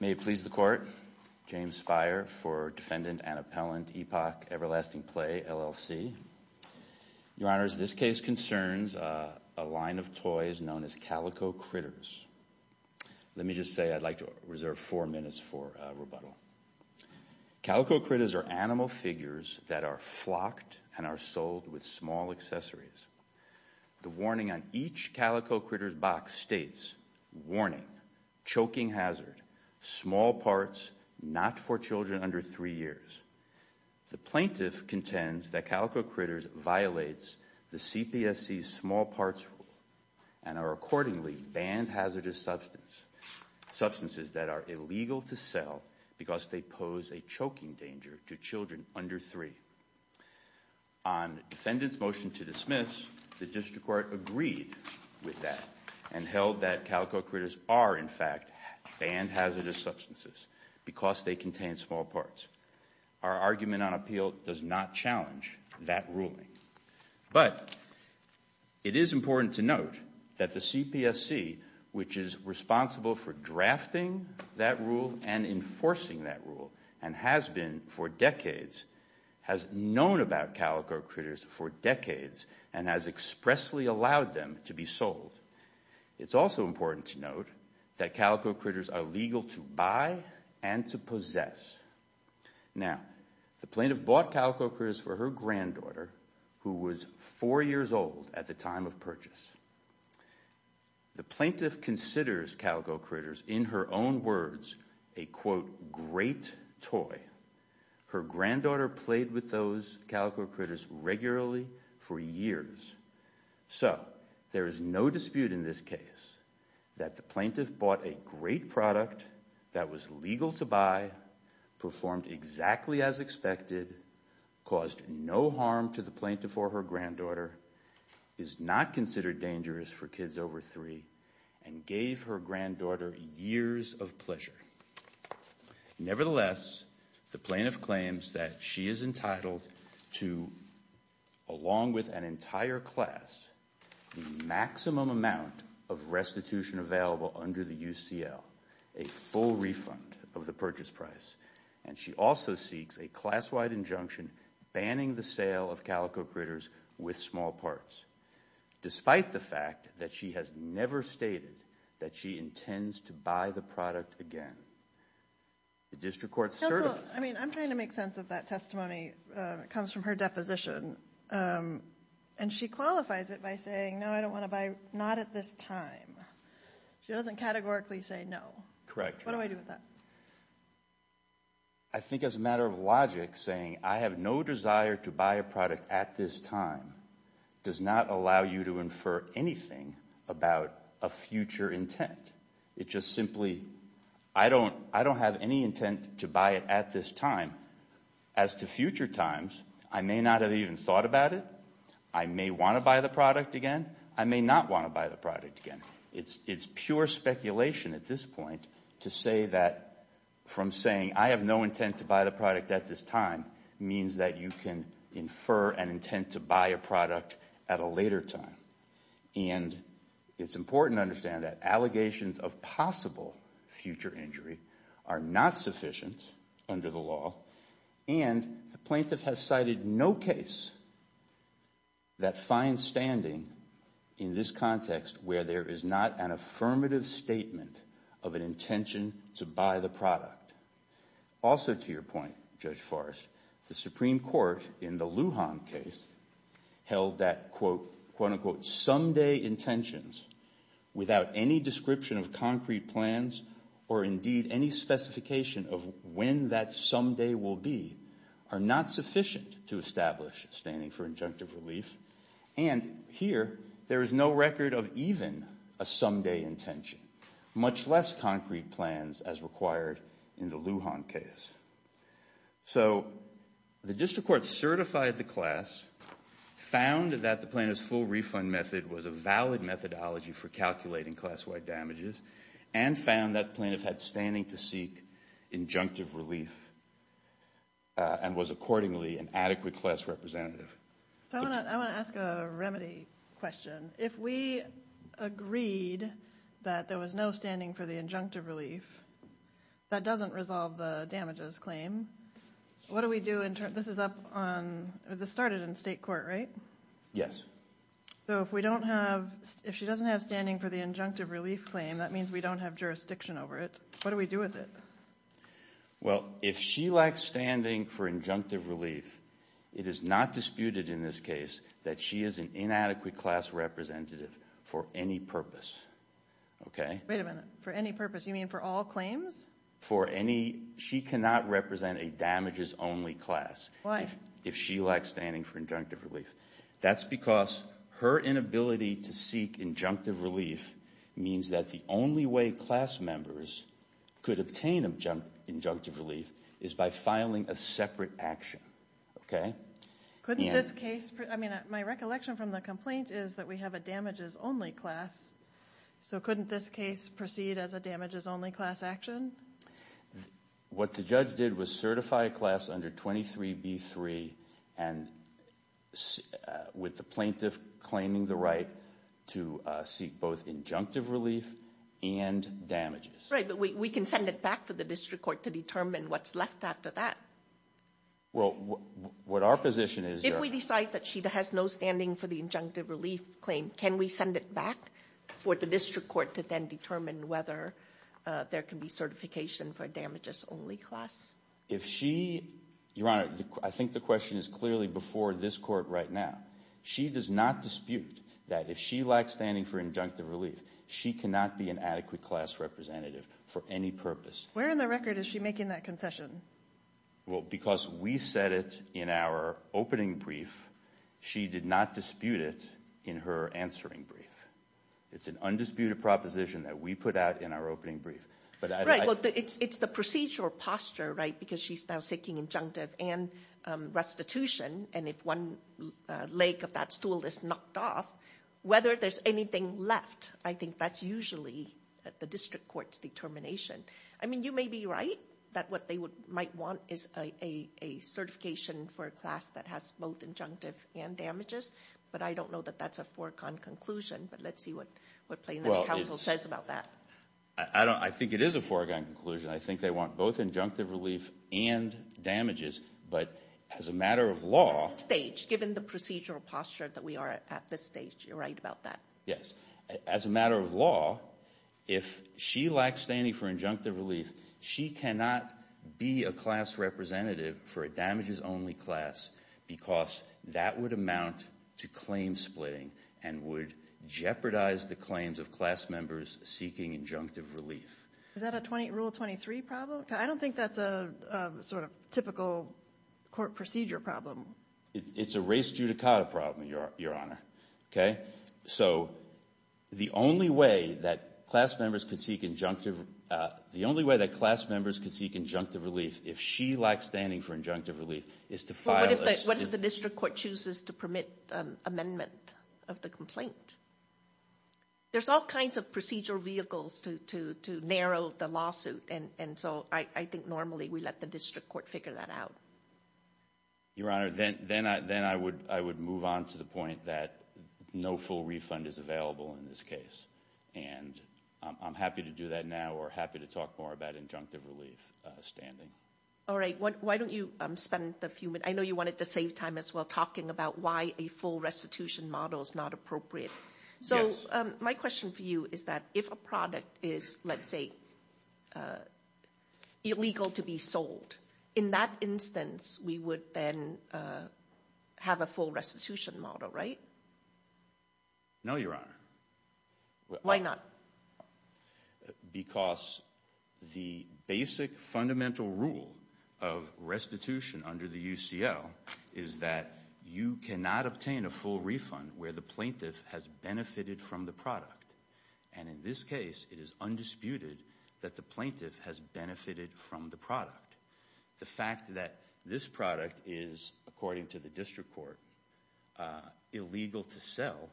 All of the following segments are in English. May it please the Court, James Speyer for Defendant and Appellant, Epoch Everlasting Play, LLC. Your Honors, this case concerns a line of toys known as calico critters. Let me just say I'd like to reserve four minutes for rebuttal. Calico critters are animal figures that are flocked and are sold with small accessories. The warning on each calico critter's box states, warning, choking hazard, small parts, not for children under three years. The plaintiff contends that calico critters violates the CPSC's small parts rule and are accordingly banned hazardous substances that are illegal to sell because they pose a choking danger to children under three. On defendant's motion to dismiss, the district court agreed with that and held that calico critters are in fact banned hazardous substances because they contain small parts. Our argument on appeal does not challenge that ruling. But it is important to note that the CPSC, which is responsible for drafting that rule and enforcing that rule and has been for decades, has known about calico critters for decades and has expressly allowed them to be sold. It's also important to note that calico critters are legal to buy and to possess. Now, the plaintiff bought calico critters for her granddaughter, who was four years old at the time of purchase. The plaintiff considers calico critters, in her own words, a, quote, great toy. Her granddaughter played with those calico critters regularly for years. So there is no dispute in this case that the plaintiff bought a great product that was legal to buy, performed exactly as expected, caused no harm to the plaintiff or her granddaughter, is not considered dangerous for kids over three, and gave her granddaughter years of pleasure. Nevertheless, the plaintiff claims that she is entitled to, along with an entire class, the maximum amount of restitution available under the UCL, a full refund of the purchase price. And she also seeks a class-wide injunction banning the sale of calico critters with small parts, despite the fact that she has never stated that she intends to buy the product again. The district court certifies. Counsel, I mean, I'm trying to make sense of that testimony. It comes from her deposition, and she qualifies it by saying, no, I don't want to buy, not at this time. She doesn't categorically say no. Correct. What do I do with that? I think as a matter of logic, saying, I have no desire to buy a product at this time, does not allow you to infer anything about a future intent. It just simply, I don't have any intent to buy it at this time. As to future times, I may not have even thought about it. I may want to buy the product again. I may not want to buy the product again. It's pure speculation at this point to say that from saying, I have no intent to buy the product at this time, means that you can infer an intent to buy a product at a later time. And it's important to understand that allegations of possible future injury are not sufficient under the law, and the plaintiff has cited no case that finds standing in this context where there is not an affirmative statement of an intention to buy the product. Also, to your point, Judge Forrest, the Supreme Court, in the Lujan case, held that quote, unquote, someday intentions without any description of concrete plans or indeed any specification of when that someday will be, are not sufficient to establish standing for injunctive relief. And here, there is no record of even a someday intention, much less concrete plans as required in the Lujan case. So the district court certified the class, found that the plaintiff's full refund method was a valid methodology for calculating class-wide damages, and found that the plaintiff had standing to seek injunctive relief and was accordingly an adequate class representative. I want to ask a remedy question. If we agreed that there was no standing for the injunctive relief, that doesn't resolve the damages claim. What do we do in terms of this is up on, this started in state court, right? Yes. So if we don't have, if she doesn't have standing for the injunctive relief claim, that means we don't have jurisdiction over it. What do we do with it? Well, if she lacks standing for injunctive relief, it is not disputed in this case that she is an inadequate class representative for any purpose. Okay? Wait a minute. For any purpose? You mean for all claims? For any, she cannot represent a damages-only class. Why? If she lacks standing for injunctive relief. That's because her inability to seek injunctive relief means that the only way class members could obtain injunctive relief is by filing a separate action. Couldn't this case, I mean, my recollection from the complaint is that we have a damages-only class, so couldn't this case proceed as a damages-only class action? What the judge did was certify a class under 23B3 and with the plaintiff claiming the right to seek both injunctive relief and damages. Right, but we can send it back for the district court to determine what's left after that. Well, what our position is, If we decide that she has no standing for the injunctive relief claim, can we send it back for the district court to then determine whether there can be certification for a damages-only class? If she, Your Honor, I think the question is clearly before this court right now. She does not dispute that if she lacks standing for injunctive relief, she cannot be an adequate class representative for any purpose. Where in the record is she making that concession? Well, because we said it in our opening brief, she did not dispute it in her answering brief. It's an undisputed proposition that we put out in our opening brief. Right, well, it's the procedural posture, right, because she's now seeking injunctive and restitution, and if one leg of that stool is knocked off, whether there's anything left, I think that's usually the district court's determination. I mean, you may be right that what they might want is a certification for a class that has both injunctive and damages, but I don't know that that's a foregone conclusion, but let's see what plaintiff's counsel says about that. I think it is a foregone conclusion. I think they want both injunctive relief and damages, but as a matter of law. At this stage, given the procedural posture that we are at at this stage, you're right about that. Yes. As a matter of law, if she lacks standing for injunctive relief, she cannot be a class representative for a damages-only class because that would amount to claim splitting and would jeopardize the claims of class members seeking injunctive relief. Is that a Rule 23 problem? I don't think that's a sort of typical court procedure problem. It's a race judicata problem, Your Honor. So the only way that class members can seek injunctive relief if she lacks standing for injunctive relief is to file a statement. What if the district court chooses to permit amendment of the complaint? There's all kinds of procedural vehicles to narrow the lawsuit, and so I think normally we let the district court figure that out. Your Honor, then I would move on to the point that no full refund is available in this case, and I'm happy to do that now or happy to talk more about injunctive relief standing. All right. Why don't you spend a few minutes? I know you wanted to save time as well talking about why a full restitution model is not appropriate. So my question for you is that if a product is, let's say, illegal to be sold, in that instance we would then have a full restitution model, right? No, Your Honor. Why not? Because the basic fundamental rule of restitution under the UCL is that you cannot obtain a full refund where the plaintiff has benefited from the product. And in this case, it is undisputed that the plaintiff has benefited from the product. The fact that this product is, according to the district court, illegal to sell,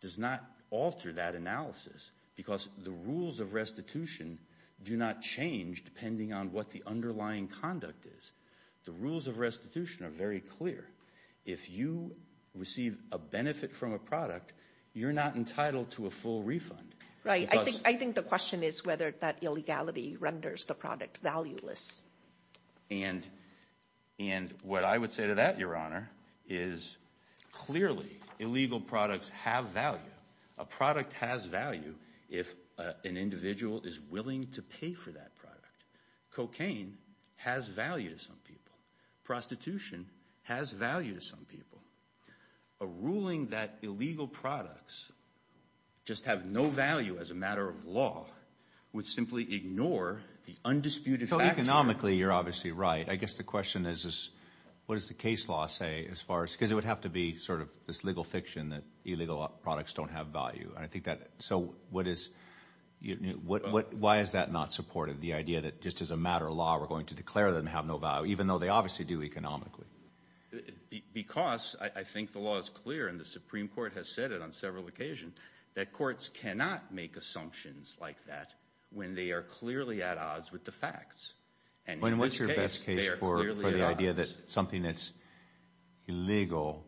does not alter that analysis because the rules of restitution do not change depending on what the underlying conduct is. The rules of restitution are very clear. If you receive a benefit from a product, you're not entitled to a full refund. I think the question is whether that illegality renders the product valueless. And what I would say to that, Your Honor, is clearly illegal products have value. A product has value if an individual is willing to pay for that product. Cocaine has value to some people. Prostitution has value to some people. A ruling that illegal products just have no value as a matter of law would simply ignore the undisputed factor. Economically, you're obviously right. I guess the question is, what does the case law say as far as because it would have to be sort of this legal fiction that illegal products don't have value. And I think that, so what is, why is that not supported, the idea that just as a matter of law, we're going to declare them to have no value even though they obviously do economically? Because I think the law is clear, and the Supreme Court has said it on several occasions, that courts cannot make assumptions like that when they are clearly at odds with the facts. And in this case, they are clearly at odds. And what's your best case for the idea that something that's illegal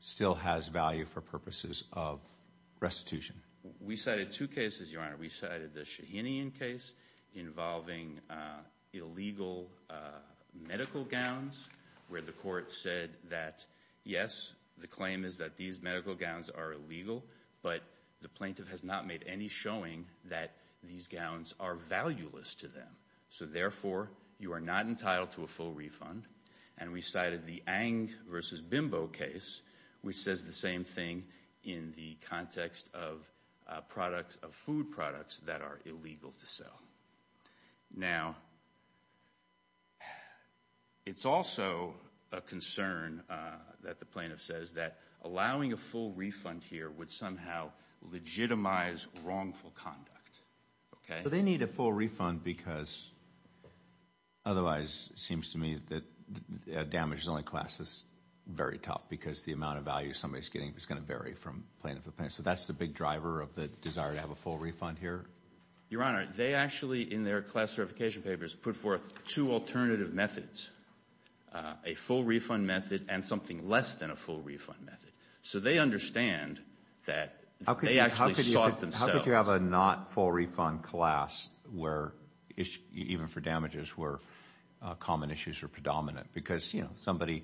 still has value for purposes of restitution? We cited two cases, Your Honor. We cited the Shahinian case involving illegal medical gowns where the court said that, yes, the claim is that these medical gowns are illegal, but the plaintiff has not made any showing that these gowns are valueless to them. So, therefore, you are not entitled to a full refund. And we cited the Ang v. Bimbo case, which says the same thing in the context of food products that are illegal to sell. Now, it's also a concern that the plaintiff says that allowing a full refund here would somehow legitimize wrongful conduct. So they need a full refund because otherwise it seems to me that a damages-only class is very tough because the amount of value somebody is getting is going to vary from plaintiff to plaintiff. So that's the big driver of the desire to have a full refund here? Your Honor, they actually, in their class certification papers, put forth two alternative methods, a full refund method and something less than a full refund method. So they understand that they actually sought themselves. It's like you have a not full refund class, even for damages, where common issues are predominant. Because somebody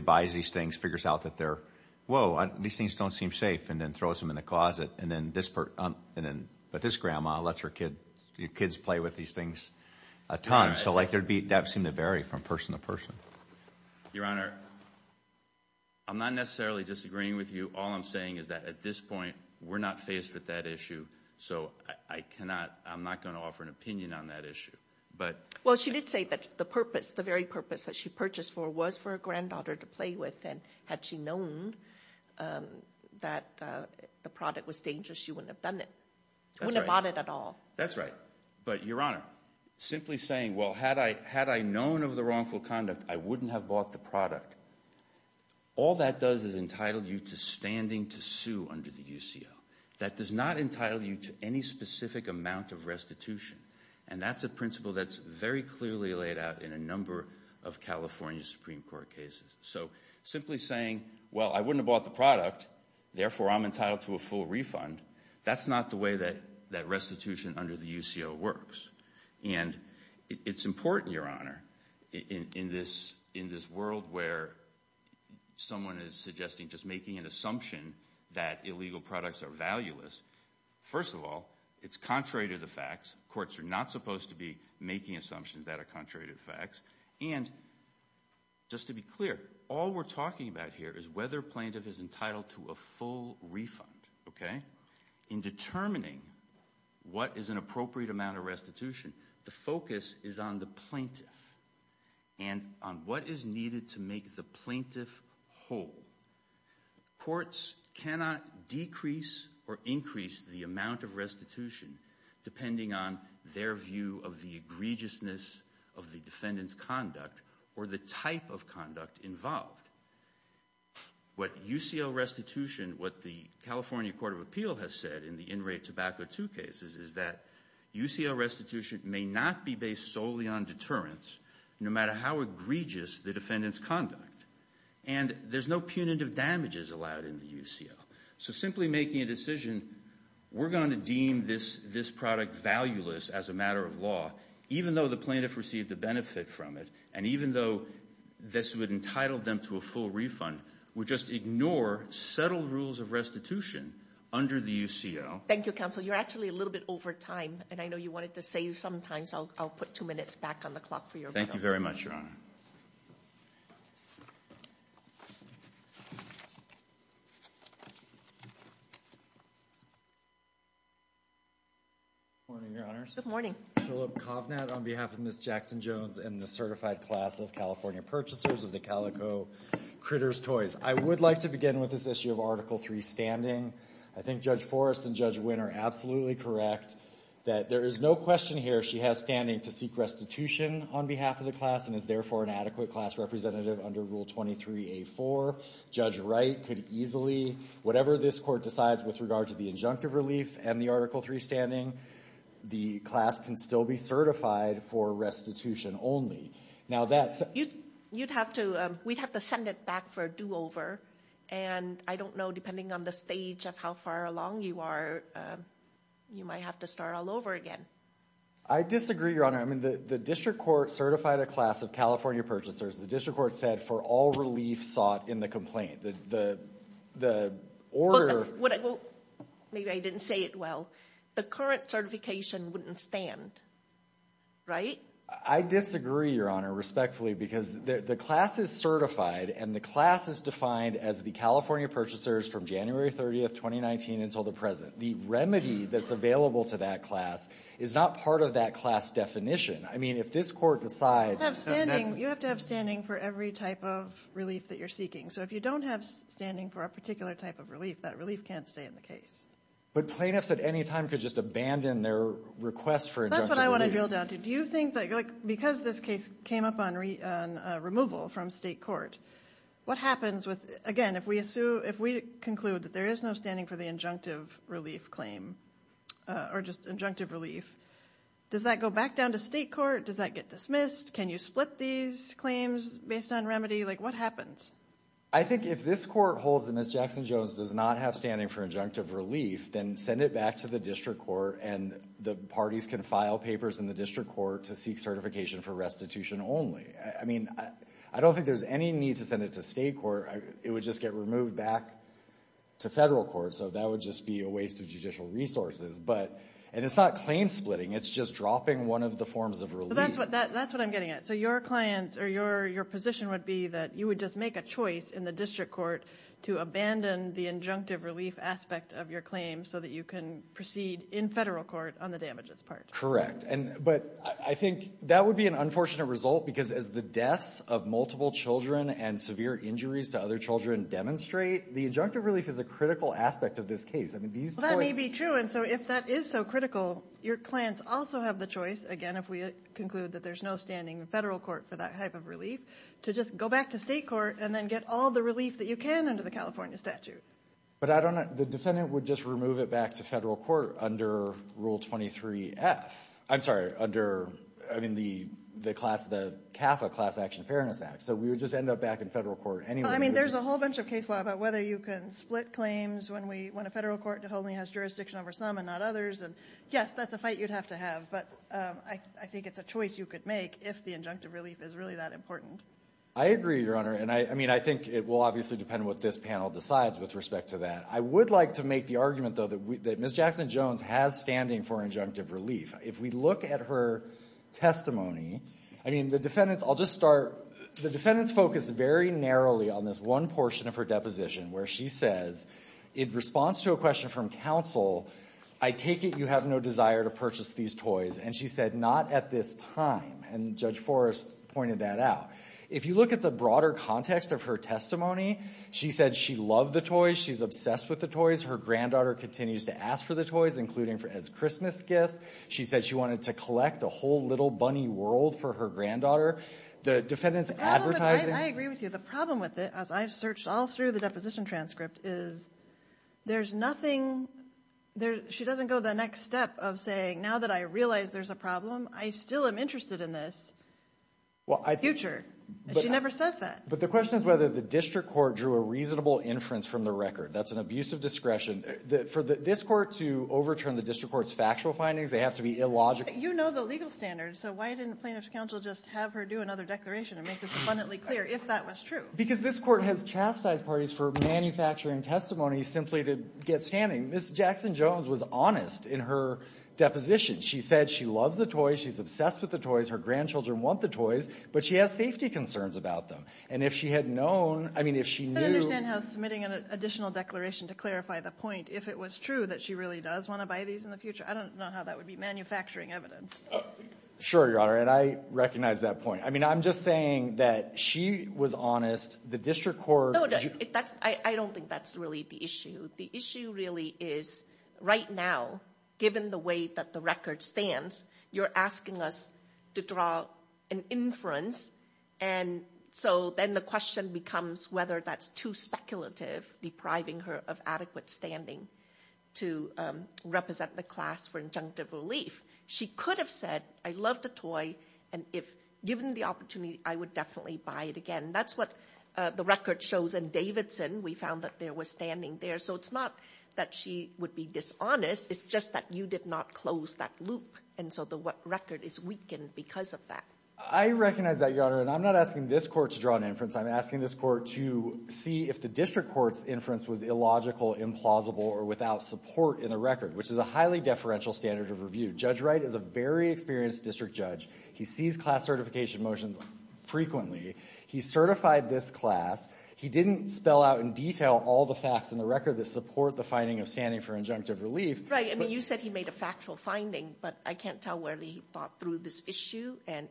buys these things, figures out that, whoa, these things don't seem safe, and then throws them in the closet. But this grandma lets her kids play with these things a ton. So that would seem to vary from person to person. Your Honor, I'm not necessarily disagreeing with you. All I'm saying is that at this point we're not faced with that issue. So I'm not going to offer an opinion on that issue. Well, she did say that the purpose, the very purpose that she purchased for was for her granddaughter to play with. And had she known that the product was dangerous, she wouldn't have bought it at all. That's right. But, Your Honor, simply saying, well, had I known of the wrongful conduct, I wouldn't have bought the product, all that does is entitle you to standing to sue under the UCO. That does not entitle you to any specific amount of restitution. And that's a principle that's very clearly laid out in a number of California Supreme Court cases. So simply saying, well, I wouldn't have bought the product, therefore I'm entitled to a full refund, that's not the way that restitution under the UCO works. And it's important, Your Honor, in this world where someone is suggesting just making an assumption that illegal products are valueless. First of all, it's contrary to the facts. Courts are not supposed to be making assumptions that are contrary to the facts. And just to be clear, all we're talking about here is whether a plaintiff is entitled to a full refund. Okay? In determining what is an appropriate amount of restitution, the focus is on the plaintiff and on what is needed to make the plaintiff whole. Courts cannot decrease or increase the amount of restitution depending on their view of the egregiousness of the defendant's conduct or the type of conduct involved. What UCO restitution, what the California Court of Appeal has said in the in-rate tobacco 2 cases, is that UCO restitution may not be based solely on deterrence, no matter how egregious the defendant's conduct. And there's no punitive damages allowed in the UCO. So simply making a decision, we're going to deem this product valueless as a matter of law, even though the plaintiff received a benefit from it, and even though this would entitle them to a full refund, would just ignore settled rules of restitution under the UCO. Thank you, counsel. You're actually a little bit over time. And I know you wanted to save some time, so I'll put two minutes back on the clock for your vote. Thank you very much, Your Honor. Good morning, Your Honors. Good morning. Philip Kovnat on behalf of Ms. Jackson-Jones and the Certified Class of California Purchasers of the Calico Critter's Toys. I would like to begin with this issue of Article III standing. I think Judge Forrest and Judge Wynn are absolutely correct that there is no question here she has standing to seek restitution on behalf of the class and is therefore an adequate class representative under Rule 23A4. Judge Wright could easily, whatever this Court decides with regard to the injunctive relief and the Article III standing, the class can still be certified for restitution only. Now that's – You'd have to – we'd have to send it back for a do-over. And I don't know, depending on the stage of how far along you are, you might have to start all over again. I disagree, Your Honor. I mean, the district court certified a class of California purchasers. The district court said for all relief sought in the complaint. The order – maybe I didn't say it well. The current certification wouldn't stand, right? I disagree, Your Honor, respectfully, because the class is certified and the class is defined as the California purchasers from January 30, 2019 until the present. The remedy that's available to that class is not part of that class definition. I mean, if this Court decides – You have to have standing for every type of relief that you're seeking. So if you don't have standing for a particular type of relief, that relief can't stay in the case. But plaintiffs at any time could just abandon their request for injunctive relief. That's what I want to drill down to. Do you think that – like, because this case came up on removal from state court, what happens with – again, if we conclude that there is no standing for the injunctive relief claim or just injunctive relief, does that go back down to state court? Does that get dismissed? Can you split these claims based on remedy? Like, what happens? I think if this Court holds that Ms. Jackson-Jones does not have standing for injunctive relief, then send it back to the district court, and the parties can file papers in the district court to seek certification for restitution only. I mean, I don't think there's any need to send it to state court. It would just get removed back to federal court, so that would just be a waste of judicial resources. But – and it's not claim splitting. It's just dropping one of the forms of relief. That's what I'm getting at. So your clients – or your position would be that you would just make a choice in the district court to abandon the injunctive relief aspect of your claim so that you can proceed in federal court on the damages part. Correct. But I think that would be an unfortunate result because as the deaths of multiple children and severe injuries to other children demonstrate, the injunctive relief is a critical aspect of this case. Well, that may be true. And so if that is so critical, your clients also have the choice, again, if we conclude that there's no standing in federal court for that type of relief, to just go back to state court and then get all the relief that you can under the California statute. But I don't – the defendant would just remove it back to federal court under Rule 23F. I'm sorry, under – I mean, the class – the CAFA Class Action Fairness Act. So we would just end up back in federal court anyway. Well, I mean, there's a whole bunch of case law about whether you can split claims when we – when a federal court only has jurisdiction over some and not others. And, yes, that's a fight you'd have to have. But I think it's a choice you could make if the injunctive relief is really that important. I agree, Your Honor. And, I mean, I think it will obviously depend what this panel decides with respect to that. I would like to make the argument, though, that Ms. Jackson-Jones has standing for injunctive relief. If we look at her testimony, I mean, the defendants – I'll just start – the defendants focus very narrowly on this one portion of her deposition where she says, in response to a question from counsel, I take it you have no desire to purchase these toys. And she said not at this time. And Judge Forrest pointed that out. If you look at the broader context of her testimony, she said she loved the toys. She's obsessed with the toys. Her granddaughter continues to ask for the toys, including as Christmas gifts. She said she wanted to collect a whole little bunny world for her granddaughter. The defendants advertising – I agree with you. The problem with it, as I've searched all through the deposition transcript, is there's nothing – she doesn't go the next step of saying, now that I realize there's a problem, I still am interested in this future. She never says that. But the question is whether the district court drew a reasonable inference from the record. That's an abuse of discretion. For this court to overturn the district court's factual findings, they have to be illogical. You know the legal standards, so why didn't plaintiff's counsel just have her do another declaration and make this abundantly clear if that was true? Because this court has chastised parties for manufacturing testimony simply to get standing. Ms. Jackson-Jones was honest in her deposition. She said she loves the toys. She's obsessed with the toys. Her grandchildren want the toys. But she has safety concerns about them. And if she had known – I mean, if she knew – But I understand how submitting an additional declaration to clarify the point, if it was true that she really does want to buy these in the future – I don't know how that would be manufacturing evidence. Sure, Your Honor. And I recognize that point. I mean, I'm just saying that she was honest. The district court – No, I don't think that's really the issue. The issue really is right now, given the way that the record stands, you're asking us to draw an inference, and so then the question becomes whether that's too speculative, depriving her of adequate standing to represent the class for injunctive relief. She could have said, I love the toy, and if given the opportunity, I would definitely buy it again. That's what the record shows. In Davidson, we found that there was standing there. So it's not that she would be dishonest. It's just that you did not close that loop, and so the record is weakened because of that. I recognize that, Your Honor. And I'm not asking this court to draw an inference. I'm asking this court to see if the district court's inference was illogical, implausible, or without support in the record, which is a highly deferential standard of review. Judge Wright is a very experienced district judge. He sees class certification motions frequently. He certified this class. He didn't spell out in detail all the facts in the record that support the finding of standing for injunctive relief. Right. I mean, you said he made a factual finding, but I can't tell whether he thought through this issue and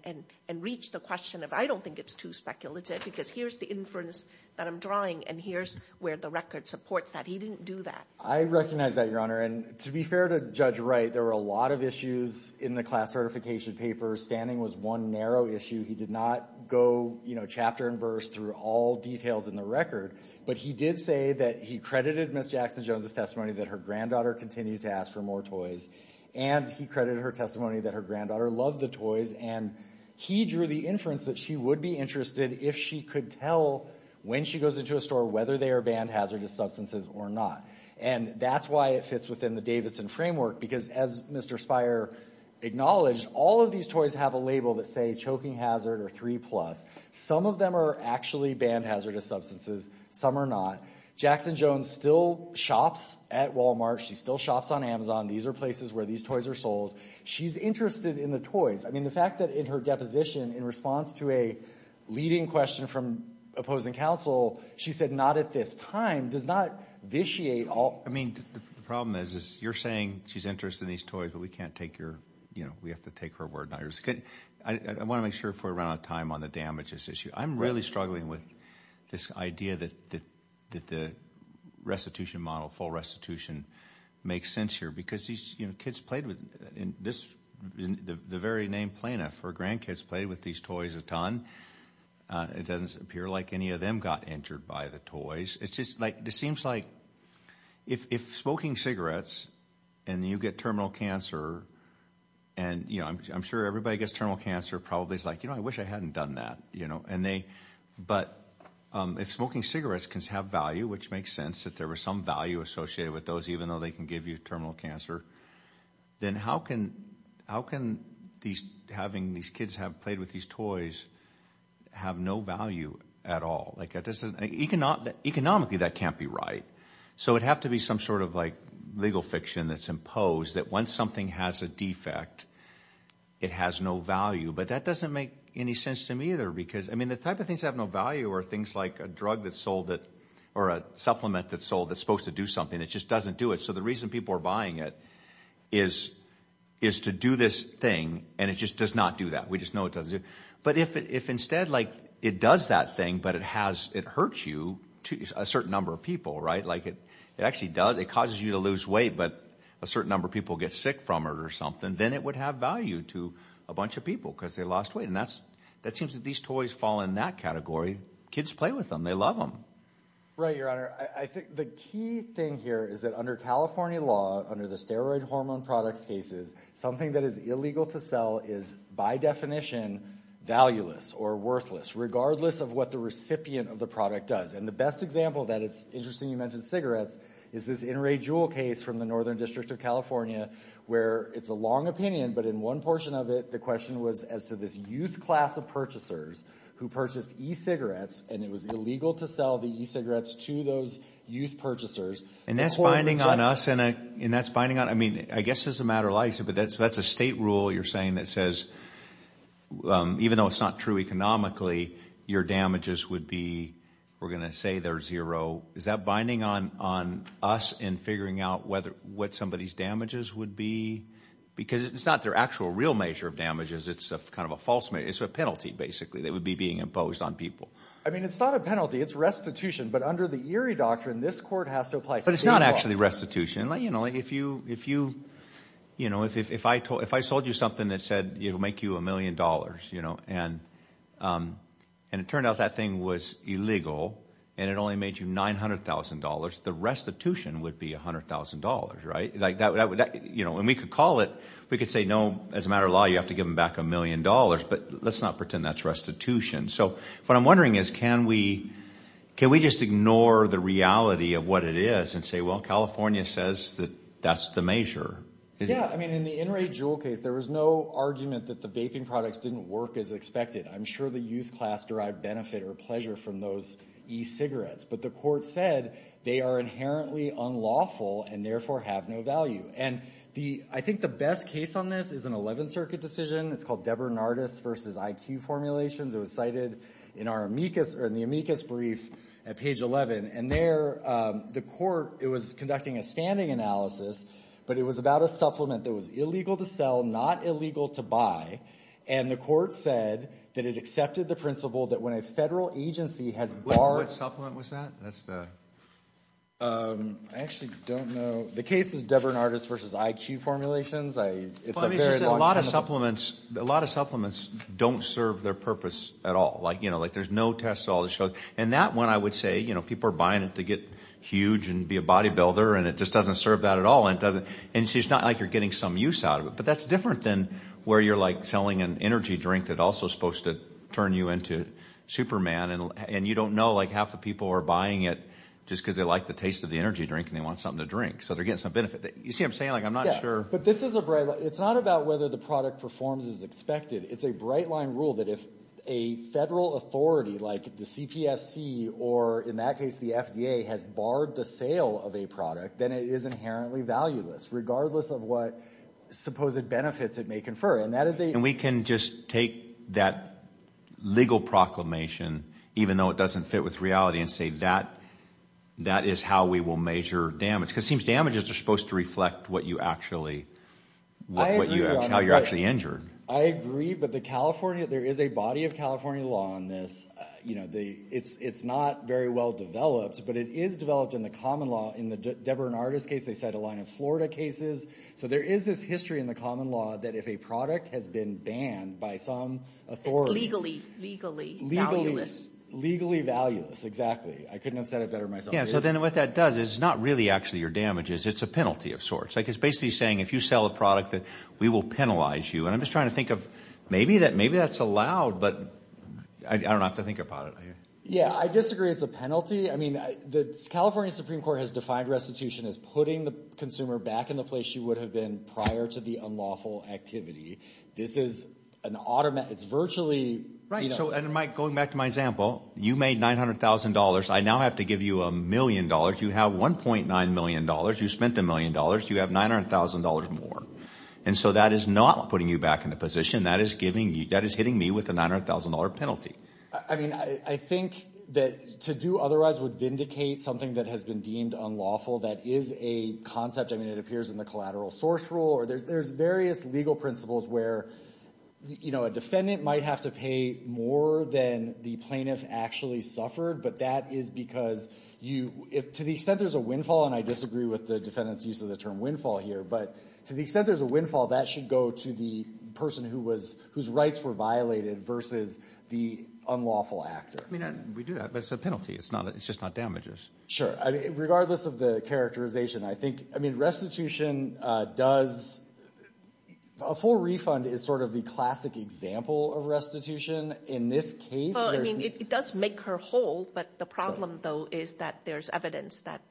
reached the question of I don't think it's too speculative because here's the inference that I'm drawing, and here's where the record supports that. He didn't do that. I recognize that, Your Honor. And to be fair to Judge Wright, there were a lot of issues in the class certification paper. Standing was one narrow issue. He did not go, you know, chapter and verse through all details in the record, but he did say that he credited Ms. Jackson-Jones' testimony that her granddaughter continued to ask for more toys, and he credited her testimony that her granddaughter loved the toys, and he drew the inference that she would be interested if she could tell when she goes into a store whether they are banned hazardous substances or not. And that's why it fits within the Davidson framework because, as Mr. Spire acknowledged, all of these toys have a label that say choking hazard or 3+. Some of them are actually banned hazardous substances. Some are not. Jackson-Jones still shops at Walmart. She still shops on Amazon. These are places where these toys are sold. She's interested in the toys. I mean, the fact that in her deposition, in response to a leading question from opposing counsel, she said not at this time does not vitiate all. I mean, the problem is you're saying she's interested in these toys, but we can't take your, you know, we have to take her word on it. I want to make sure before we run out of time on the damages issue. I'm really struggling with this idea that the restitution model, full restitution, makes sense here because, you know, kids played with this. The very named plaintiff, her grandkids played with these toys a ton. It doesn't appear like any of them got injured by the toys. It seems like if smoking cigarettes and you get terminal cancer, and, you know, I'm sure everybody gets terminal cancer probably is like, you know, I wish I hadn't done that, you know. But if smoking cigarettes can have value, which makes sense that there was some value associated with those, even though they can give you terminal cancer, then how can having these kids have played with these toys have no value at all? Economically, that can't be right. So it'd have to be some sort of like legal fiction that's imposed that when something has a defect, it has no value. But that doesn't make any sense to me either because, I mean, the type of things that have no value are things like a drug that's sold or a supplement that's sold that's supposed to do something. And it just doesn't do it. So the reason people are buying it is to do this thing, and it just does not do that. We just know it doesn't do it. But if instead like it does that thing, but it hurts you, a certain number of people, right? Like it actually does. It causes you to lose weight, but a certain number of people get sick from it or something. Then it would have value to a bunch of people because they lost weight. And that seems that these toys fall in that category. Kids play with them. They love them. Right, Your Honor. I think the key thing here is that under California law, under the steroid hormone products cases, something that is illegal to sell is by definition valueless or worthless, regardless of what the recipient of the product does. And the best example of that, it's interesting you mentioned cigarettes, is this In Ray Jewel case from the Northern District of California where it's a long opinion, but in one portion of it, the question was as to this youth class of purchasers who purchased e-cigarettes, and it was illegal to sell the e-cigarettes to those youth purchasers. And that's binding on us, and that's binding on, I mean, I guess it's a matter of life, but that's a state rule you're saying that says even though it's not true economically, your damages would be, we're going to say they're zero. Is that binding on us in figuring out what somebody's damages would be? Because it's not their actual real measure of damages. It's kind of a false measure. It's a penalty, basically. It would be being imposed on people. I mean, it's not a penalty. It's restitution. But under the Erie Doctrine, this court has to apply state law. But it's not actually restitution. If I sold you something that said it would make you a million dollars and it turned out that thing was illegal and it only made you $900,000, the restitution would be $100,000, right? And we could call it, we could say, no, as a matter of law, you have to give them back a million dollars. But let's not pretend that's restitution. So what I'm wondering is can we just ignore the reality of what it is and say, well, California says that that's the measure. Yeah. I mean, in the in-rate jewel case, there was no argument that the vaping products didn't work as expected. I'm sure the youth class derived benefit or pleasure from those e-cigarettes. But the court said they are inherently unlawful and therefore have no value. And I think the best case on this is an 11th Circuit decision. It's called Debernardis v. IQ Formulations. It was cited in the amicus brief at page 11. And there the court, it was conducting a standing analysis, but it was about a supplement that was illegal to sell, not illegal to buy. And the court said that it accepted the principle that when a federal agency has barred What supplement was that? I actually don't know. The case is Debernardis v. IQ Formulations. Let me just say a lot of supplements don't serve their purpose at all. Like there's no test at all. And that one I would say people are buying it to get huge and be a bodybuilder, and it just doesn't serve that at all. And it's just not like you're getting some use out of it. But that's different than where you're like selling an energy drink that also is supposed to turn you into Superman. And you don't know like half the people are buying it just because they like the taste of the energy drink and they want something to drink. So they're getting some benefit. You see what I'm saying? Like I'm not sure. But this is a bright line. It's not about whether the product performs as expected. It's a bright line rule that if a federal authority like the CPSC or in that case the FDA has barred the sale of a product, then it is inherently valueless regardless of what supposed benefits it may confer. And we can just take that legal proclamation, even though it doesn't fit with reality, and say that is how we will measure damage. Because it seems damages are supposed to reflect how you're actually injured. I agree, but there is a body of California law on this. It's not very well developed, but it is developed in the common law. In the Deborah and Artis case, they set a line of Florida cases. So there is this history in the common law that if a product has been banned by some authority. It's legally valueless. Legally valueless, exactly. I couldn't have said it better myself. Yeah, so then what that does is it's not really actually your damages. It's a penalty of sorts. It's basically saying if you sell a product, we will penalize you. And I'm just trying to think of maybe that's allowed, but I don't know. I have to think about it. Yeah, I disagree. It's a penalty. I mean the California Supreme Court has defined restitution as putting the consumer back in the place she would have been prior to the unlawful activity. This is an automatic. Right, so going back to my example, you made $900,000. I now have to give you $1 million. You have $1.9 million. You spent $1 million. You have $900,000 more. And so that is not putting you back in the position. That is hitting me with a $900,000 penalty. I mean I think that to do otherwise would vindicate something that has been deemed unlawful. That is a concept. I mean it appears in the collateral source rule. There's various legal principles where a defendant might have to pay more than the plaintiff actually suffered. But that is because you, to the extent there's a windfall, and I disagree with the defendant's use of the term windfall here, but to the extent there's a windfall, that should go to the person who was, whose rights were violated versus the unlawful actor. I mean we do that, but it's a penalty. It's not, it's just not damages. Sure. Regardless of the characterization, I think, I mean restitution does, a full refund is sort of the classic example of restitution. In this case, there's Well, I mean it does make her whole, but the problem though is that there's evidence that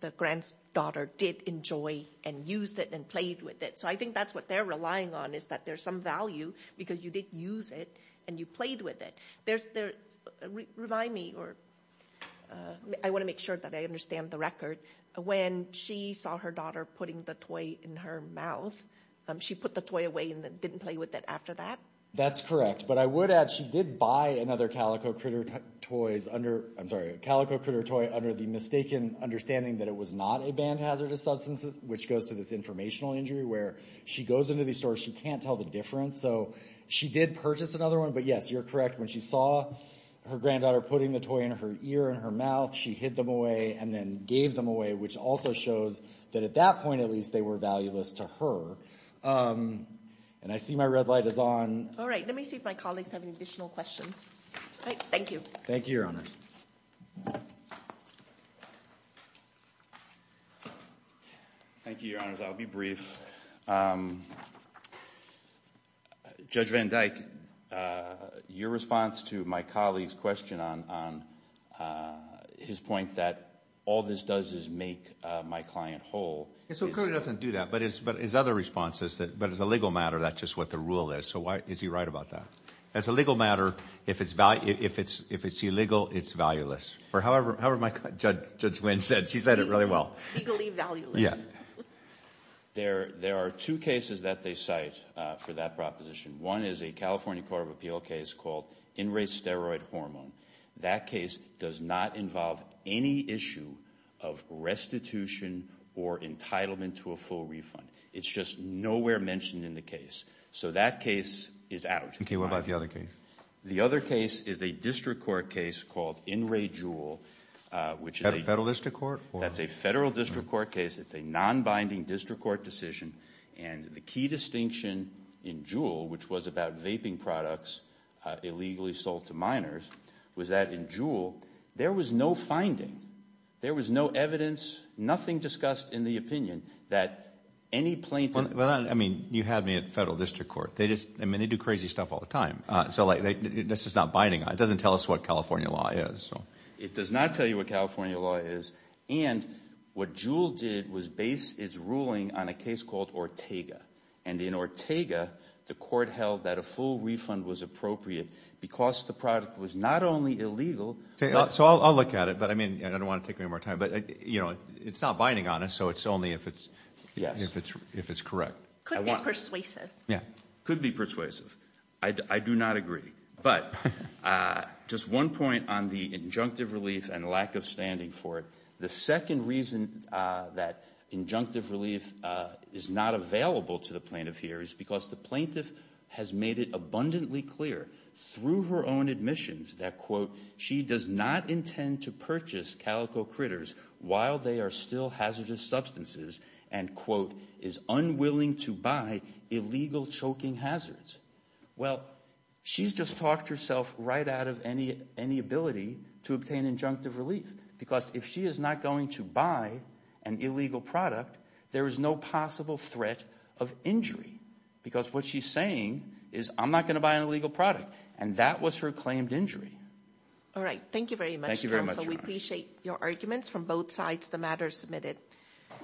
the granddaughter did enjoy and used it and played with it. So I think that's what they're relying on is that there's some value because you did use it and you played with it. There's, there, remind me or, I want to make sure that I understand the record. When she saw her daughter putting the toy in her mouth, she put the toy away and didn't play with it after that? That's correct. But I would add she did buy another Calico Critter toys under, I'm sorry, a Calico Critter toy under the mistaken understanding that it was not a band hazardous substance, which goes to this informational injury where she goes into these stores, she can't tell the difference. So she did purchase another one, but yes, you're correct. When she saw her granddaughter putting the toy in her ear and her mouth, she hid them away and then gave them away, which also shows that at that point at least they were valueless to her. And I see my red light is on. All right. Let me see if my colleagues have any additional questions. All right. Thank you. Thank you, Your Honors. Thank you, Your Honors. I'll be brief. Judge Van Dyke, your response to my colleague's question on his point that all this does is make my client whole. So it clearly doesn't do that. But his other response is that as a legal matter, that's just what the rule is. So is he right about that? As a legal matter, if it's illegal, it's valueless. Or however my judge, Judge Van, said. She said it really well. Legally valueless. Yeah. There are two cases that they cite for that proposition. One is a California Court of Appeal case called in-race steroid hormone. That case does not involve any issue of restitution or entitlement to a full refund. It's just nowhere mentioned in the case. So that case is out. Okay. What about the other case? The other case is a district court case called in-rate Juul. Federal district court? That's a federal district court case. It's a non-binding district court decision. And the key distinction in Juul, which was about vaping products illegally sold to minors, was that in Juul, there was no finding. There was no evidence, nothing discussed in the opinion that any plaintiff. Well, I mean, you have me at federal district court. I mean, they do crazy stuff all the time. So this is not binding. It doesn't tell us what California law is. It does not tell you what California law is. And what Juul did was base its ruling on a case called Ortega. And in Ortega, the court held that a full refund was appropriate because the product was not only illegal. So I'll look at it. But, I mean, I don't want to take any more time. But, you know, it's not binding on us, so it's only if it's correct. Could be persuasive. Yeah. Could be persuasive. I do not agree. But just one point on the injunctive relief and lack of standing for it. The second reason that injunctive relief is not available to the plaintiff here is because the plaintiff has made it abundantly clear, through her own admissions, that, quote, she does not intend to purchase calico critters while they are still hazardous substances and, quote, is unwilling to buy illegal choking hazards. Well, she's just talked herself right out of any ability to obtain injunctive relief because if she is not going to buy an illegal product, there is no possible threat of injury because what she's saying is I'm not going to buy an illegal product. And that was her claimed injury. All right. Thank you very much, counsel. We appreciate your arguments from both sides of the matter submitted.